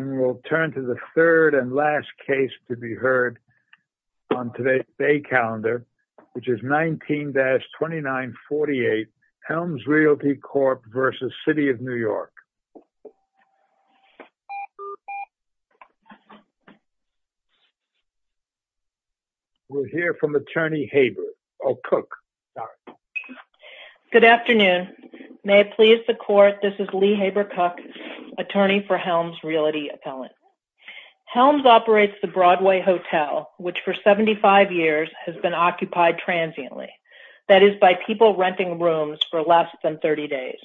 and we'll turn to the third and last case to be heard on today's day calendar which is 19-2948 Helms Realty Corp. v. City of New York. We'll hear from Attorney Haber, oh Cook, sorry. Good afternoon. May it please the Court, this is Lee Haber Cook, attorney for Helms Realty Appellant. Helms operates the Broadway Hotel which for 75 years has been occupied transiently, that is by people renting rooms for less than 30 days.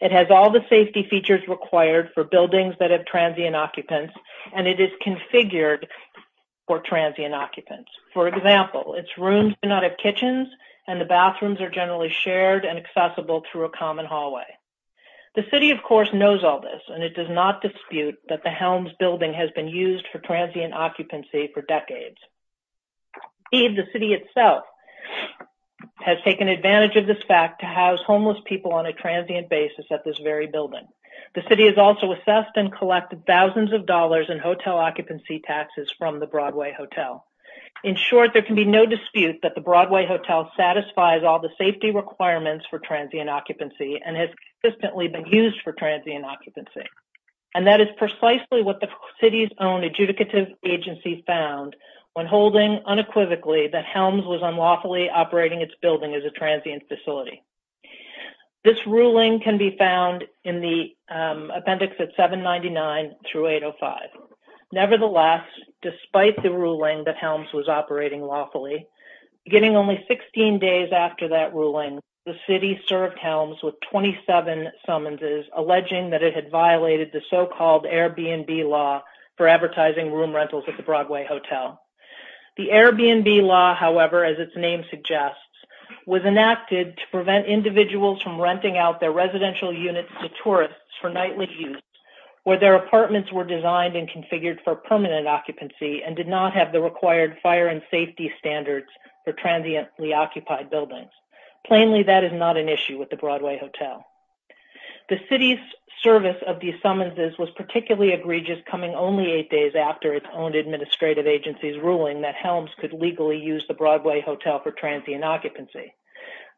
It has all the safety features required for buildings that have transient occupants and it is configured for transient occupants. For example, its rooms do not have kitchens and the bathrooms are generally shared and accessible through a common hallway. The City of course knows all this and it does not dispute that the Helms building has been used for transient occupancy for decades. The City itself has taken advantage of this fact to house homeless people on a transient basis at this very building. The City has also assessed and collected thousands of dollars in hotel occupancy taxes from the Broadway Hotel. In short, there can be no dispute that the Broadway Hotel satisfies all the safety requirements for transient occupancy and has consistently been used for transient occupancy and that is precisely what the City's own adjudicative agency found when holding unequivocally that Helms was unlawfully operating its building as a transient facility. This ruling can be found in the appendix at 799 through 805. Nevertheless, despite the ruling that Helms was operating lawfully, beginning only 16 days after that ruling, the City served Helms with 27 summonses alleging that it had violated the so-called Airbnb law for advertising room rentals at the Broadway Hotel. The Airbnb law, however, as its name suggests, was enacted to prevent individuals from renting out their residential units to tourists for permanent occupancy and did not have the required fire and safety standards for transiently occupied buildings. Plainly, that is not an issue with the Broadway Hotel. The City's service of these summonses was particularly egregious coming only eight days after its own administrative agency's ruling that Helms could legally use the Broadway Hotel for transient occupancy.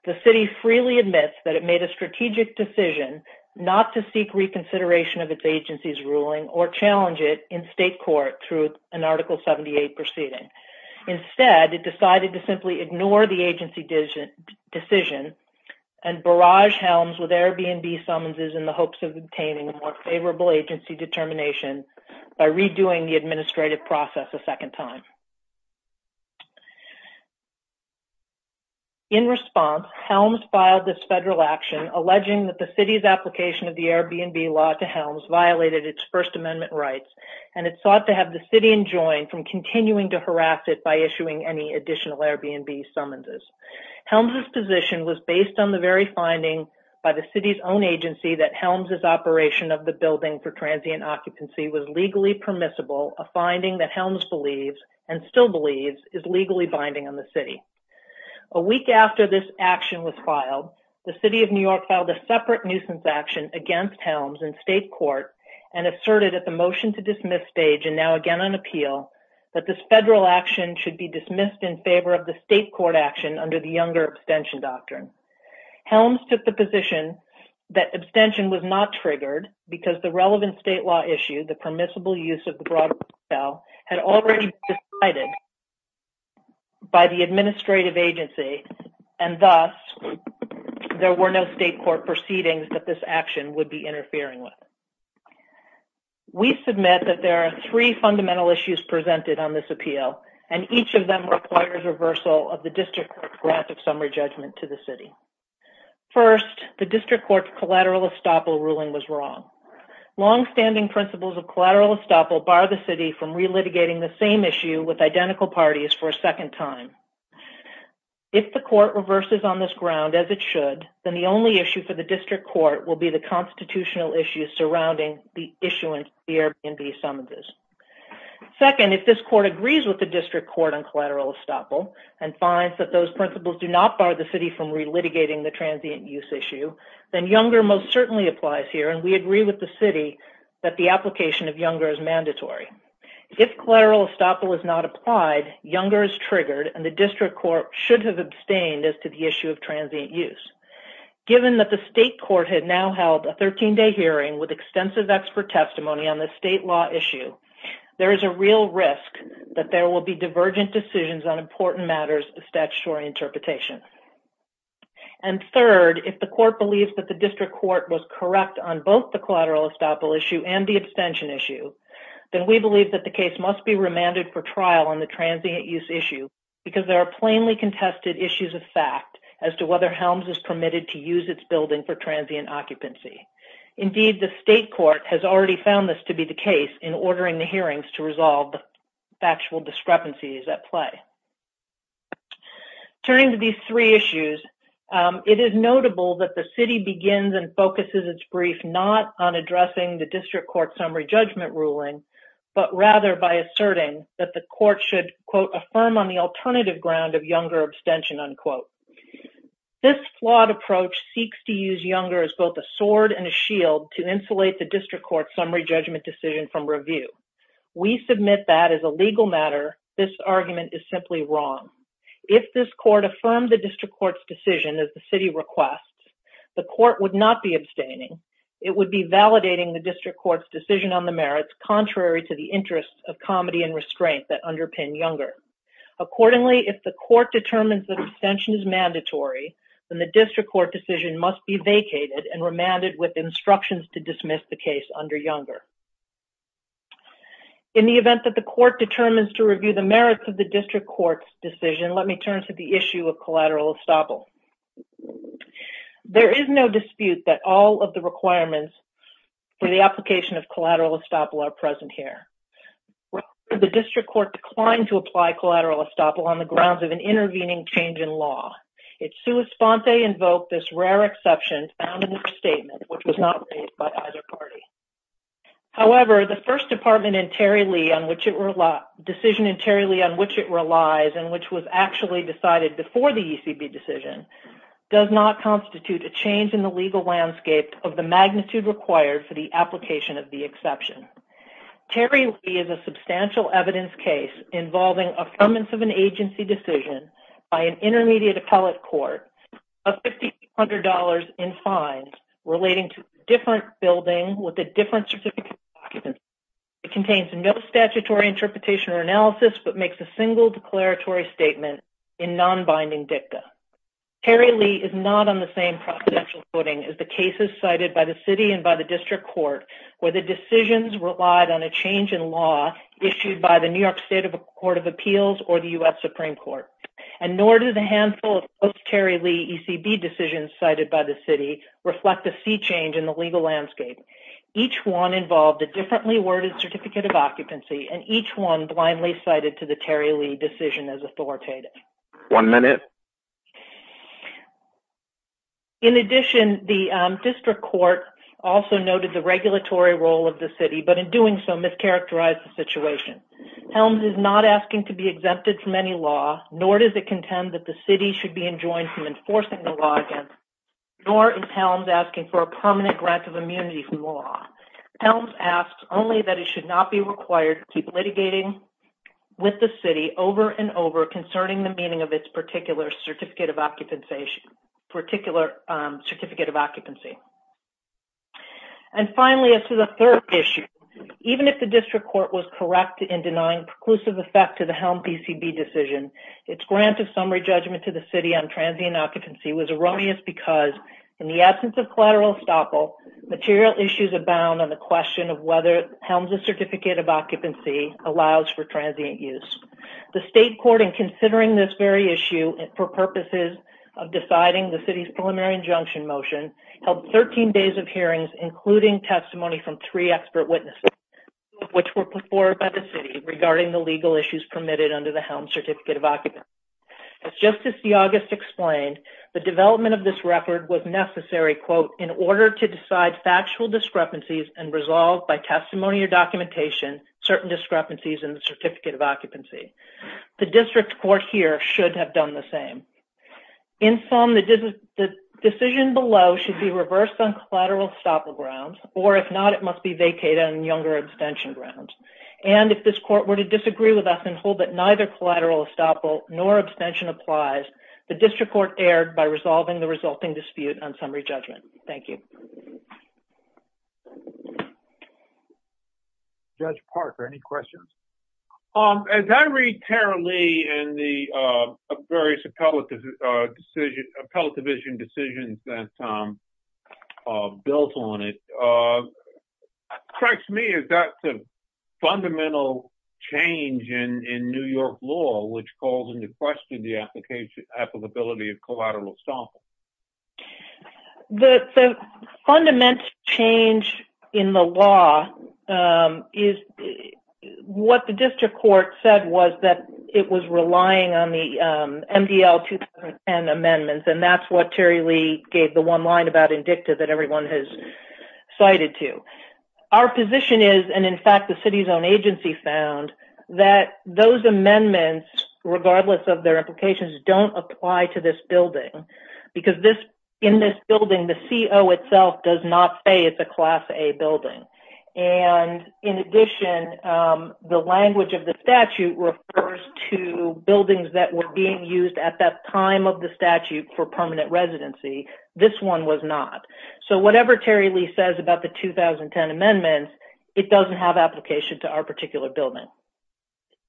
The City freely admits that it made a strategic decision not to seek reconsideration of its agency's ruling or challenge it in state court through an Article 78 proceeding. Instead, it decided to simply ignore the agency decision and barrage Helms with Airbnb summonses in the hopes of obtaining more favorable agency determination by redoing the administrative process a second time. In response, Helms filed this federal action alleging that the City's application of violated its First Amendment rights and it sought to have the City enjoined from continuing to harass it by issuing any additional Airbnb summonses. Helms's position was based on the very finding by the City's own agency that Helms's operation of the building for transient occupancy was legally permissible, a finding that Helms believes and still believes is legally binding on the City. A week after this action was filed, the City of New York filed a separate nuisance action against Helms in state court and asserted at the motion to dismiss stage, and now again on appeal, that this federal action should be dismissed in favor of the state court action under the younger abstention doctrine. Helms took the position that abstention was not triggered because the relevant state law issue, the permissible use of the Broadway Hotel, had already been decided by the administrative agency and thus there were no state court proceedings that this action would be interfering with. We submit that there are three fundamental issues presented on this appeal and each of them requires reversal of the District Court's graphic summary judgment to the City. First, the District Court's collateral estoppel ruling was wrong. Long-standing principles of collateral estoppel bar the City from re-litigating the same issue with If the court reverses on this ground as it should, then the only issue for the District Court will be the constitutional issues surrounding the issuance of the Airbnb summonses. Second, if this court agrees with the District Court on collateral estoppel and finds that those principles do not bar the City from re-litigating the transient use issue, then Younger most certainly applies here and we agree with the City that the application of Younger is mandatory. If collateral estoppel is not applied, Younger is triggered and the District Court should have abstained as to the issue of transient use. Given that the state court had now held a 13-day hearing with extensive expert testimony on the state law issue, there is a real risk that there will be divergent decisions on important matters of statutory interpretation. And third, if the court believes that the District Court was correct on both the collateral estoppel issue and the abstention issue, then we believe that the case must be resolved. There are plainly contested issues of fact as to whether Helms is permitted to use its building for transient occupancy. Indeed, the state court has already found this to be the case in ordering the hearings to resolve factual discrepancies at play. Turning to these three issues, it is notable that the City begins and focuses its brief not on addressing the District Court summary judgment ruling, but rather by asserting that the court should quote affirm on the alternative ground of Younger abstention unquote. This flawed approach seeks to use Younger as both a sword and a shield to insulate the District Court summary judgment decision from review. We submit that as a legal matter, this argument is simply wrong. If this court affirmed the District Court's decision as the City requests, the court would not be abstaining. It would be validating the District Court's decision on the merits contrary to the interests of comedy and restraint that underpin Younger. Accordingly, if the court determines that abstention is mandatory, then the District Court decision must be vacated and remanded with instructions to dismiss the case under Younger. In the event that the court determines to review the merits of the District Court's decision, let me turn to the issue of collateral estoppel. There is no dispute that all of the requirements for the application of collateral estoppel are correct. The District Court declined to apply collateral estoppel on the grounds of an intervening change in law. Its sua sponte invoked this rare exception found in their statement, which was not made by either party. However, the first department in Terry Lee on which it relies, decision in Terry Lee on which it relies, and which was actually decided before the ECB decision, does not constitute a change in the legal landscape of the magnitude required for the application of the exception. Terry Lee is a substantial evidence case involving affirmance of an agency decision by an intermediate appellate court of $5,800 in fines relating to a different building with a different specific occupancy. It contains no statutory interpretation or analysis but makes a single declaratory statement in non-binding dicta. Terry Lee is not on the same propositional footing as the cases cited by the city and by the District Court where the decisions relied on a change in law issued by the New York State Court of Appeals or the US Supreme Court. And nor do the handful of Terry Lee ECB decisions cited by the city reflect a sea change in the legal landscape. Each one involved a differently worded certificate of occupancy and each one blindly cited to the Terry Lee decision as authoritative. One minute. In addition, the District Court also noted the regulatory role of the city but in doing so mischaracterized the situation. Helms is not asking to be exempted from any law, nor does it contend that the city should be enjoined from enforcing the law against it, nor is Helms asking for a permanent grant of immunity from the law. Helms asks only that it should not be required to keep meaning of its particular certificate of occupancy. And finally, as to the third issue, even if the District Court was correct in denying preclusive effect to the Helms ECB decision, its grant of summary judgment to the city on transient occupancy was erroneous because in the absence of collateral estoppel, material issues abound on the question of whether Helms's certificate of occupancy allows for transient use. The State Court, in considering this very issue for purposes of deciding the city's preliminary injunction motion, held 13 days of hearings, including testimony from three expert witnesses, which were put forward by the city regarding the legal issues permitted under the Helms certificate of occupancy. As Justice DeAuguste explained, the development of this record was necessary, quote, in order to decide factual discrepancies and resolve by certificate of occupancy. The District Court here should have done the same. In sum, the decision below should be reversed on collateral estoppel grounds, or if not, it must be vacated on younger abstention grounds. And if this court were to disagree with us and hold that neither collateral estoppel nor abstention applies, the District Court erred by resolving the resulting dispute on summary judgment. Thank you. Judge Parker, any questions? As I read Tara Lee and the various appellate division decisions that are built on it, it strikes me as that's a fundamental change in New York law, which calls into question the fundamental change in the law is what the District Court said was that it was relying on the MDL 2010 amendments, and that's what Tara Lee gave the one line about indicative that everyone has cited to. Our position is, and in fact the city's own agency found, that those amendments, regardless of their applications, don't apply to this building because in this building the CO itself does not say it's a Class A building. And in addition, the language of the statute refers to buildings that were being used at that time of the statute for permanent residency. This one was not. So whatever Tara Lee says about the 2010 amendments, it doesn't have application to our particular building.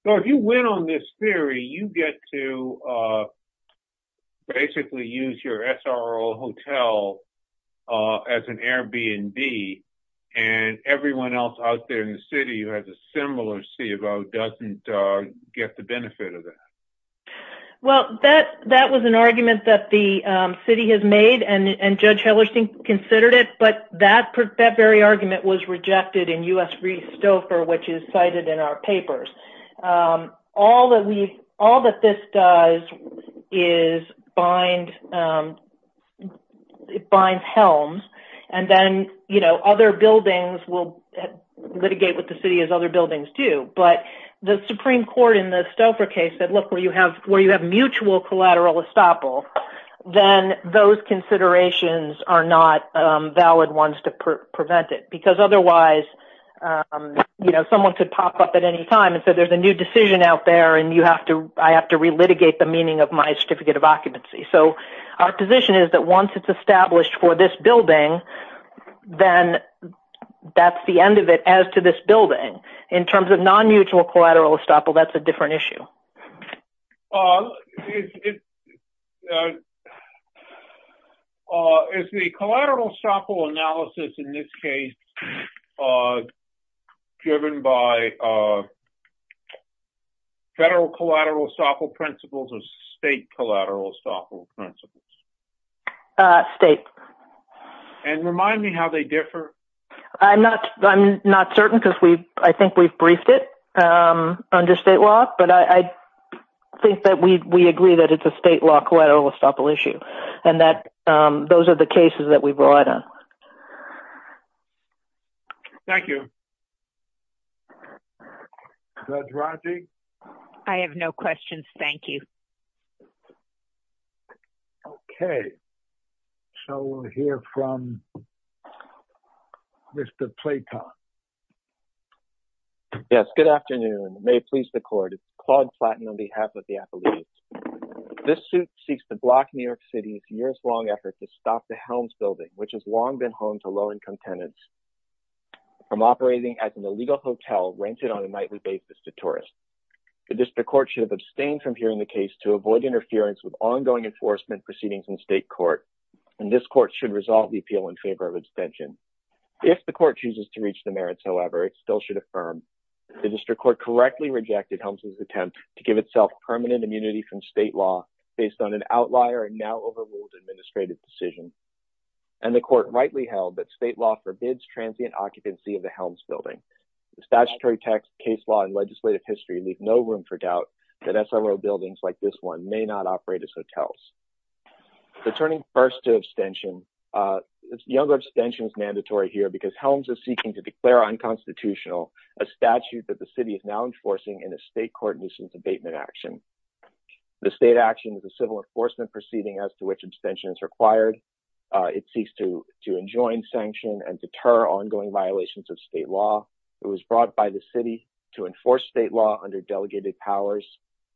So if you win on this theory, you get to basically use your SRO hotel as an Airbnb, and everyone else out there in the city who has a similar CO doesn't get the benefit of that? Well, that was an argument that the city has made, and Judge Hellerstein considered it, but that very argument was rejected in the U.S. v. Stouffer, which is cited in our papers. All that we, all that this does is bind, it binds helms, and then, you know, other buildings will litigate with the city as other buildings do. But the Supreme Court in the Stouffer case said, look, where you have, where you have mutual collateral estoppel, then those you know, someone could pop up at any time and say there's a new decision out there, and you have to, I have to re-litigate the meaning of my certificate of occupancy. So our position is that once it's established for this building, then that's the end of it as to this building. In terms of non-mutual collateral estoppel, that's a different issue. Is the collateral estoppel analysis in this case driven by federal collateral estoppel principles or state collateral estoppel principles? State. And remind me how they differ? I'm not, I'm not certain because we, I think we've think that we, we agree that it's a state law collateral estoppel issue, and that those are the cases that we've relied on. Thank you. Judge Rodney? I have no questions, thank you. Okay. So we'll hear from Mr. Platon. Yes, good evening. My name is John Platon, and I'm the attorney on behalf of the Appalachians. This suit seeks to block New York City's years-long effort to stop the Helms building, which has long been home to low-income tenants, from operating as an illegal hotel rented on a nightly basis to tourists. The district court should have abstained from hearing the case to avoid interference with ongoing enforcement proceedings in state court, and this court should resolve the appeal in favor of abstention. If the court chooses to permanent immunity from state law based on an outlier and now overruled administrative decision, and the court rightly held that state law forbids transient occupancy of the Helms building, the statutory text, case law, and legislative history leave no room for doubt that SRO buildings like this one may not operate as hotels. Returning first to abstention, younger abstention is mandatory here because Helms is seeking to declare unconstitutional a statute that the city is now enforcing in a state court abatement action. The state action is a civil enforcement proceeding as to which abstention is required. It seeks to enjoin sanction and deter ongoing violations of state law. It was brought by the city to enforce state law under delegated powers.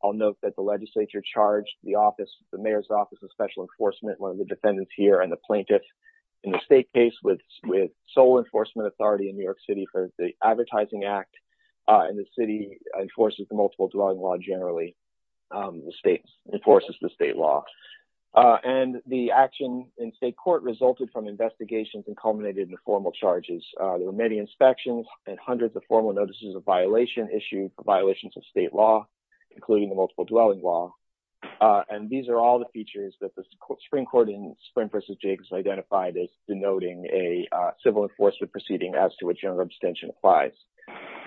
I'll note that the legislature charged the office, the mayor's office of special enforcement, one of the defendants here, and the plaintiff in the state case with sole enforcement authority in New York City for the Advertising Act, and the city enforces the multiple dwelling law generally. The state enforces the state law, and the action in state court resulted from investigations and culminated in formal charges. There were many inspections and hundreds of formal notices of violation issued for violations of state law, including the multiple dwelling law, and these are all the features that the Supreme Court in Sprint v. Jacobs identified as denoting a civil enforcement proceeding as to which general abstention applies.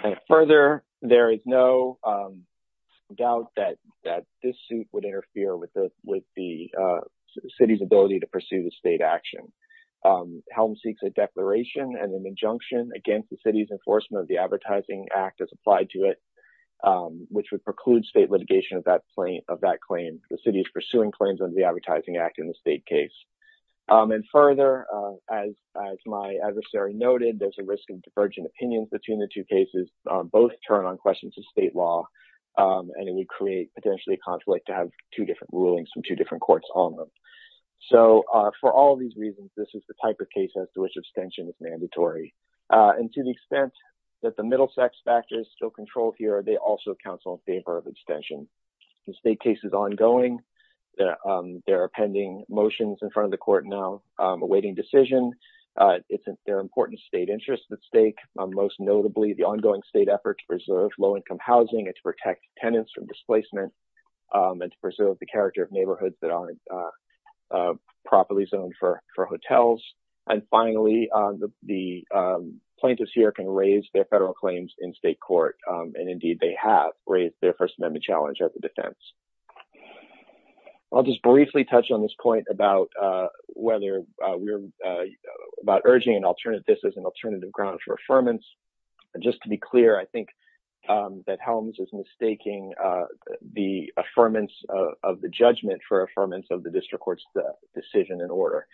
And further, there is no doubt that this suit would interfere with the city's ability to pursue the state action. Helm seeks a declaration and an injunction against the city's enforcement of the Advertising Act as applied to it, which would preclude state litigation of that claim. The city is pursuing claims under the Advertising Act in the state case. And further, as my adversary noted, there's a risk of divergent opinions between the two cases. Both turn on questions of state law, and it would create potentially a conflict to have two different rulings from two different courts on them. So, for all these reasons, this is the type of case as to which abstention is mandatory. And to the extent that the middle sex factor is still controlled here, they also favor abstention. The state case is ongoing. There are pending motions in front of the court now awaiting decision. There are important state interests at stake, most notably the ongoing state effort to preserve low-income housing and to protect tenants from displacement and to preserve the character of neighborhoods that aren't properly zoned for hotels. And finally, the plaintiffs here can raise their federal claims in state court. And indeed, they have raised their First Amendment challenge at the defense. I'll just briefly touch on this point about whether we're – about urging an alternative – this as an alternative ground for affirmance. And just to be clear, I think that Helms is mistaking the affirmance of the judgment for affirmance of the district court's decision and order.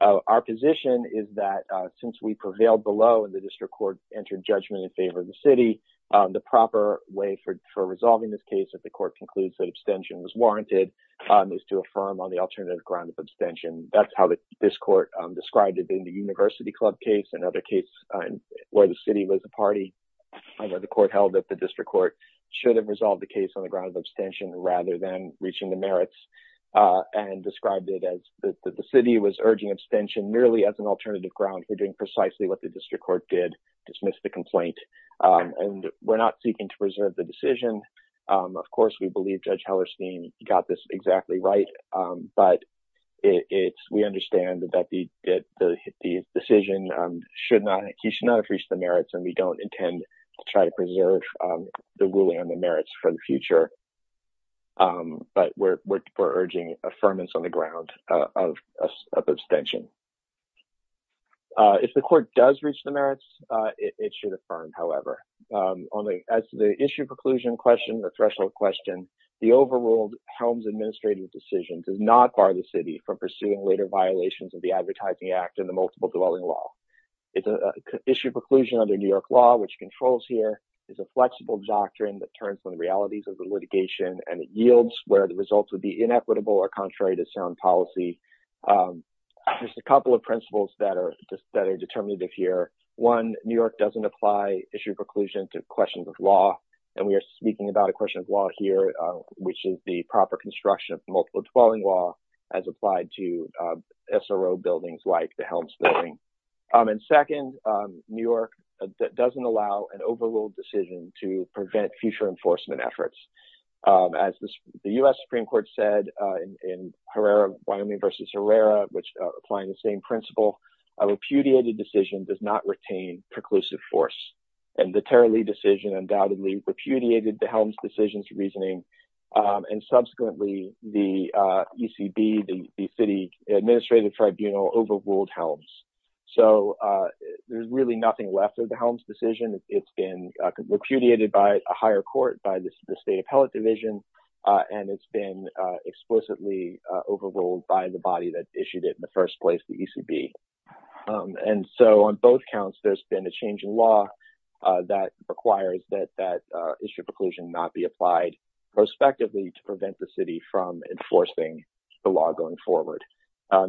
Our position is that since we prevailed below and the district court entered judgment in favor of the city, the proper way for resolving this case if the court concludes that abstention was warranted is to affirm on the alternative ground of abstention. That's how this court described it in the University Club case, another case where the city was a party. However, the court held that the district court should have resolved the case on the ground of abstention rather than reaching the merits and described it as that the city was urging abstention merely as an alternative ground for precisely what the district court did, dismissed the complaint. And we're not seeking to preserve the decision. Of course, we believe Judge Hellerstein got this exactly right, but we understand that the decision should not – he should not have reached the merits, and we don't intend to try to preserve the ruling on the merits for the future. But we're urging affirmance on the If the court does reach the merits, it should affirm, however. As to the issue preclusion question, the threshold question, the overruled Helms administrative decision does not bar the city from pursuing later violations of the Advertising Act and the multiple dwelling law. Issue preclusion under New York law, which controls here, is a flexible doctrine that turns on realities of the litigation, and it yields where the results would be There's a couple of principles that are determined here. One, New York doesn't apply issue preclusion to questions of law, and we are speaking about a question of law here, which is the proper construction of multiple dwelling law as applied to SRO buildings like the Helms building. And second, New York doesn't allow an overruled decision to prevent future enforcement efforts. As the U.S. Supreme Court said in Herrera – Wyoming v. Herrera, applying the same principle – a repudiated decision does not retain preclusive force. And the Tara Lee decision undoubtedly repudiated the Helms decision's reasoning. And subsequently, the ECB, the city administrative tribunal overruled Helms. So there's really nothing left of the Helms decision. It's been repudiated by a higher court, by the state that issued it in the first place, the ECB. And so on both counts, there's been a change in law that requires that issue preclusion not be applied prospectively to prevent the city from enforcing the law going forward.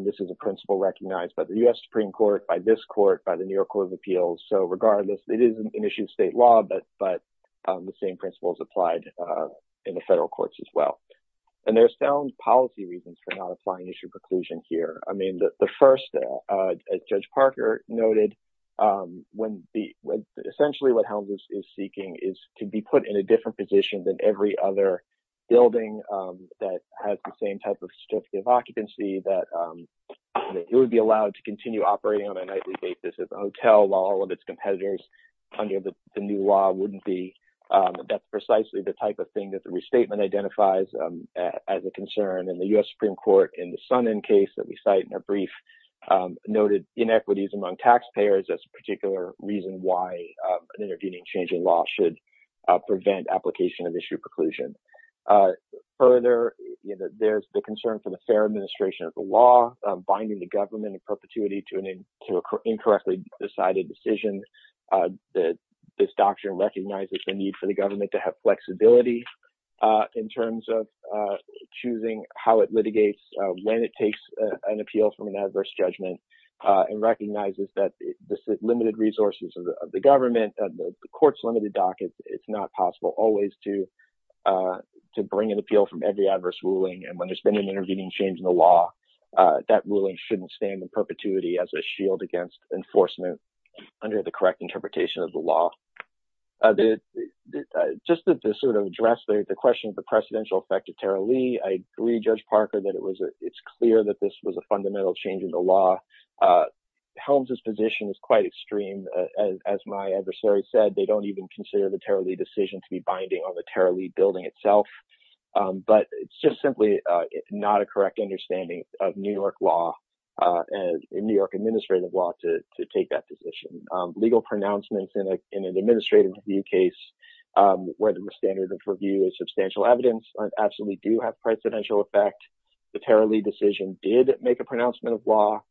This is a principle recognized by the U.S. Supreme Court, by this court, by the New York Court of Appeals. So regardless, it is an issue of state law, but the same principle is applied in the federal courts as well. And there's sound policy reasons for not applying issue preclusion here. I mean, the first, as Judge Parker noted, essentially what Helms is seeking is to be put in a different position than every other building that has the same type of certificate of occupancy, that it would be allowed to continue operating on a nightly basis as a hotel while all of its competitors under the new law wouldn't be. That's precisely the type of thing that the restatement identifies as a concern. And the U.S. Supreme Court, in the Sonnen case that we cite in our brief, noted inequities among taxpayers as a particular reason why an intervening change in law should prevent application of issue preclusion. Further, there's the concern for the fair administration of the law, binding the government in perpetuity to an incorrectly decided decision. This recognizes the need for the government to have flexibility in terms of choosing how it litigates, when it takes an appeal from an adverse judgment, and recognizes that the limited resources of the government, the court's limited docket, it's not possible always to bring an appeal from every adverse ruling. And when there's been an intervening change in the law, that ruling shouldn't stand in perpetuity as a shield against enforcement under the law. Just to sort of address the question of the precedential effect of Tara Lee, I agree, Judge Parker, that it's clear that this was a fundamental change in the law. Helms' position is quite extreme. As my adversary said, they don't even consider the Tara Lee decision to be binding on the Tara Lee building itself. But it's just simply not a correct understanding of New York law and New York administrative law to take that position. Legal pronouncements in an administrative review case where there were standards of review and substantial evidence absolutely do have precedential effect. The Tara Lee decision did make a pronouncement of law.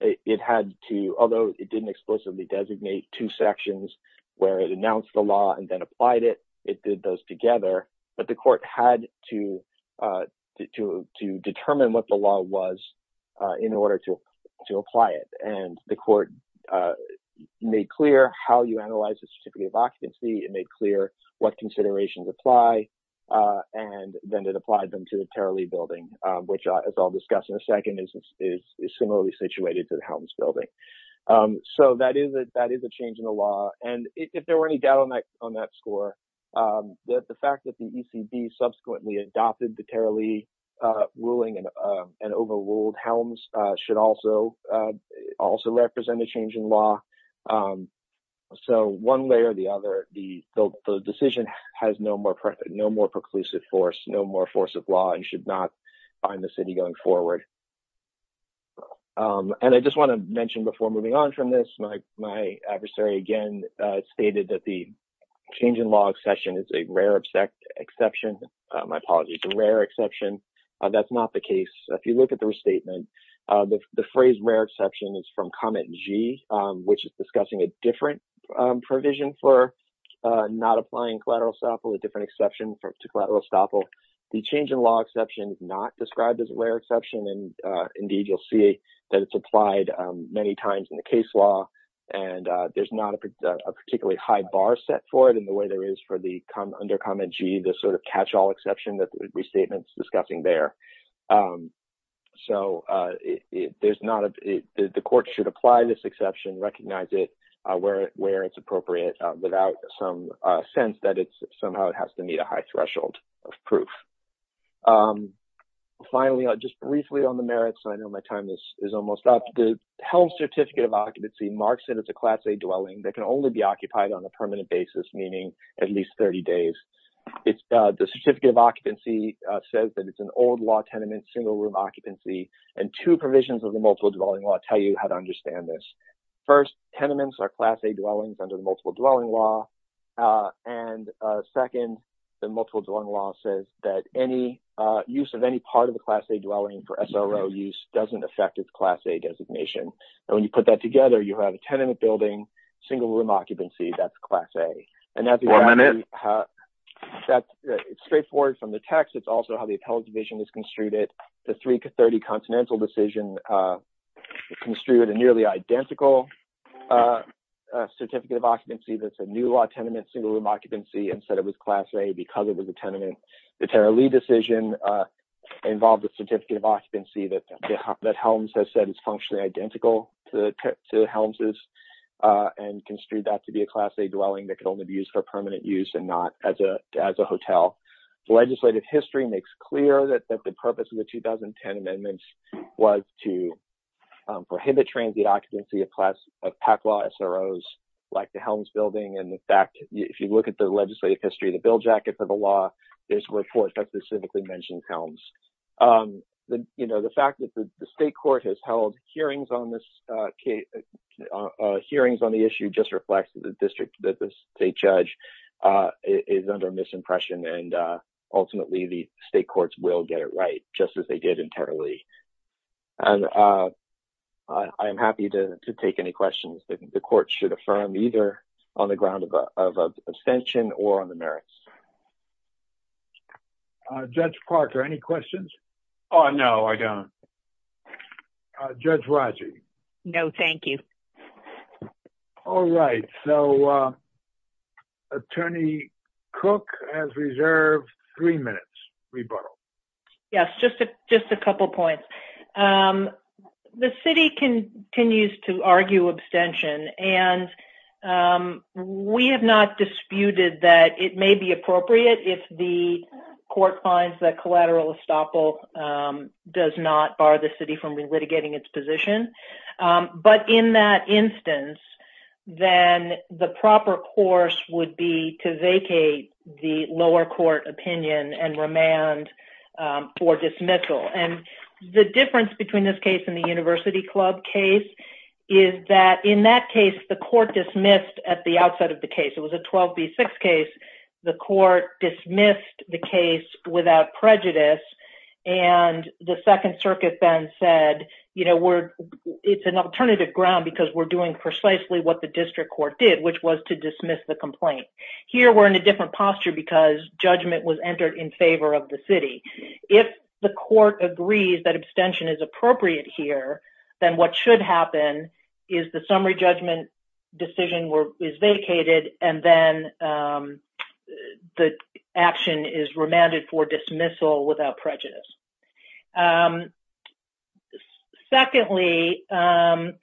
It had to, although it didn't explicitly designate two sections where it announced the law and then applied it, it did those together, but the court had to determine what the law was in order to apply it. And the court made clear how you analyze the specificity of occupancy. It made clear what considerations apply, and then it applied them to the Tara Lee building, which, as I'll discuss in a second, is similarly situated to the Helms building. So that is a change in the law. And if there were any doubt on that score, that the fact that the ECB subsequently adopted the Tara Lee ruling and overruled Helms should also represent a change in law. So one way or the other, the decision has no more preclusive force, no more force of law, and should not bind the city going forward. And I just want to mention before moving on from this, my adversary again stated that the change in law exception is a rare exception. My apologies, a rare exception. That's not the case. If you look at the restatement, the phrase rare exception is from comment G, which is discussing a different provision for not applying collateral estoppel, a different exception to collateral estoppel. The change in law exception is not described as a rare exception. And indeed, you'll see that it's applied many times in the case law. And there's not a particularly high bar set for it in the way there is for the under comment G, the sort of catch-all exception that the restatement's discussing there. So there's not a – the court should apply this exception, recognize it where it's appropriate without some sense that somehow it has to meet a high threshold of proof. Finally, just briefly on the merits, I know my time is almost up. The Helms Certificate of Occupancy marks it as a Class A dwelling that can only be occupied on a permanent basis, meaning at least 30 days. The Certificate of Occupancy says that it's an old-law tenement, single-room occupancy. And two provisions of the Multiple Dwelling Law tell you how to understand this. First, tenements are Class A dwellings under the Multiple Dwelling Law. And second, the Multiple Dwelling Law says that any use of any of the Class A dwellings for SRO use doesn't affect its Class A designation. And when you put that together, you have a tenement building, single-room occupancy. That's Class A. And that's – One minute. It's straightforward from the text. It's also how the Appellate Division has construed it. The 330 Continental decision construed a nearly identical Certificate of Occupancy that's a new-law tenement, single-room occupancy and said it was Class A because it was a tenement. The Tara Lee decision involved a Certificate of Occupancy that Helms has said is functionally identical to Helms' and construed that to be a Class A dwelling that could only be used for permanent use and not as a hotel. The legislative history makes clear that the purpose of the 2010 amendments was to prohibit transient occupancy of PAC law SROs like the Helms building. And, in fact, if you look at the legislative history of the bill jacket for the law, there's a report that specifically mentions Helms. The fact that the state court has held hearings on this – hearings on the issue just reflects that the district – that the state judge is under misimpression. And, ultimately, the state courts will get it right just as they did in Tara Lee. And I am happy to take any questions that the court should affirm either on the ground of abstention or on the merits. Uh, Judge Parker, any questions? Oh, no, I don't. Judge Raji? No, thank you. All right. So, uh, Attorney Cook has reserved three minutes. Rebuttal. Yes, just a – just a couple points. Um, the city continues to argue court finds that collateral estoppel, um, does not bar the city from relitigating its position. Um, but in that instance, then the proper course would be to vacate the lower court opinion and remand, um, for dismissal. And the difference between this case and the University Club case is that in that case, the court dismissed at the outset of the case. It was a 12B6 case. The court dismissed the case without prejudice. And the Second Circuit then said, you know, we're – it's an alternative ground because we're doing precisely what the district court did, which was to dismiss the complaint. Here, we're in a different posture because judgment was entered in favor of the city. If the court agrees that abstention is appropriate here, then what should happen is the summary judgment decision is vacated and then, um, the action is remanded for dismissal without prejudice. Secondly, um,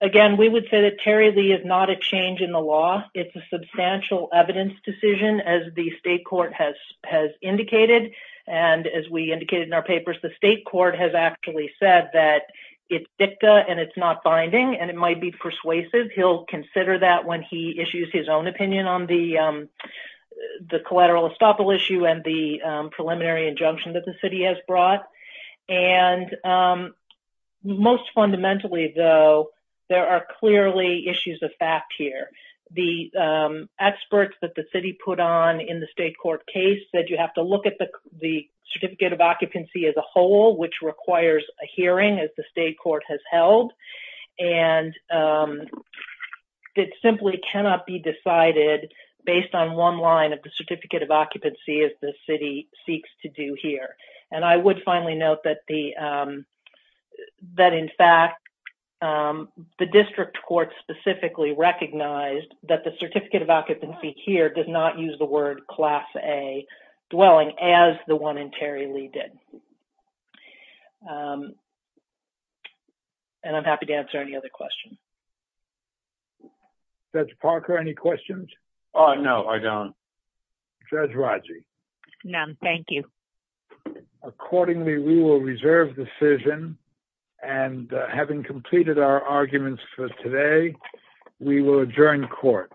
again, we would say that Terry Lee is not a change in the law. It's a substantial evidence decision, as the state court has – has indicated. And as we indicated in our papers, the state court has actually said that it's dicta and it's not binding, and it might be persuasive. He'll consider that when he issues his own opinion on the collateral estoppel issue and the preliminary injunction that the city has brought. And most fundamentally, though, there are clearly issues of fact here. The experts that the city put on in the state court case said you have to look at the certificate of occupancy as a whole, which requires a hearing, as the it simply cannot be decided based on one line of the certificate of occupancy, as the city seeks to do here. And I would finally note that the, um, that in fact, um, the district court specifically recognized that the certificate of occupancy here does not use the word Class A dwelling as the one in Terry Lee did. Um, and I'm happy to answer any other questions. Judge Parker, any questions? Uh, no, I don't. Judge Rodger? None. Thank you. Accordingly, we will reserve the decision. And having completed our arguments for today, we will adjourn court.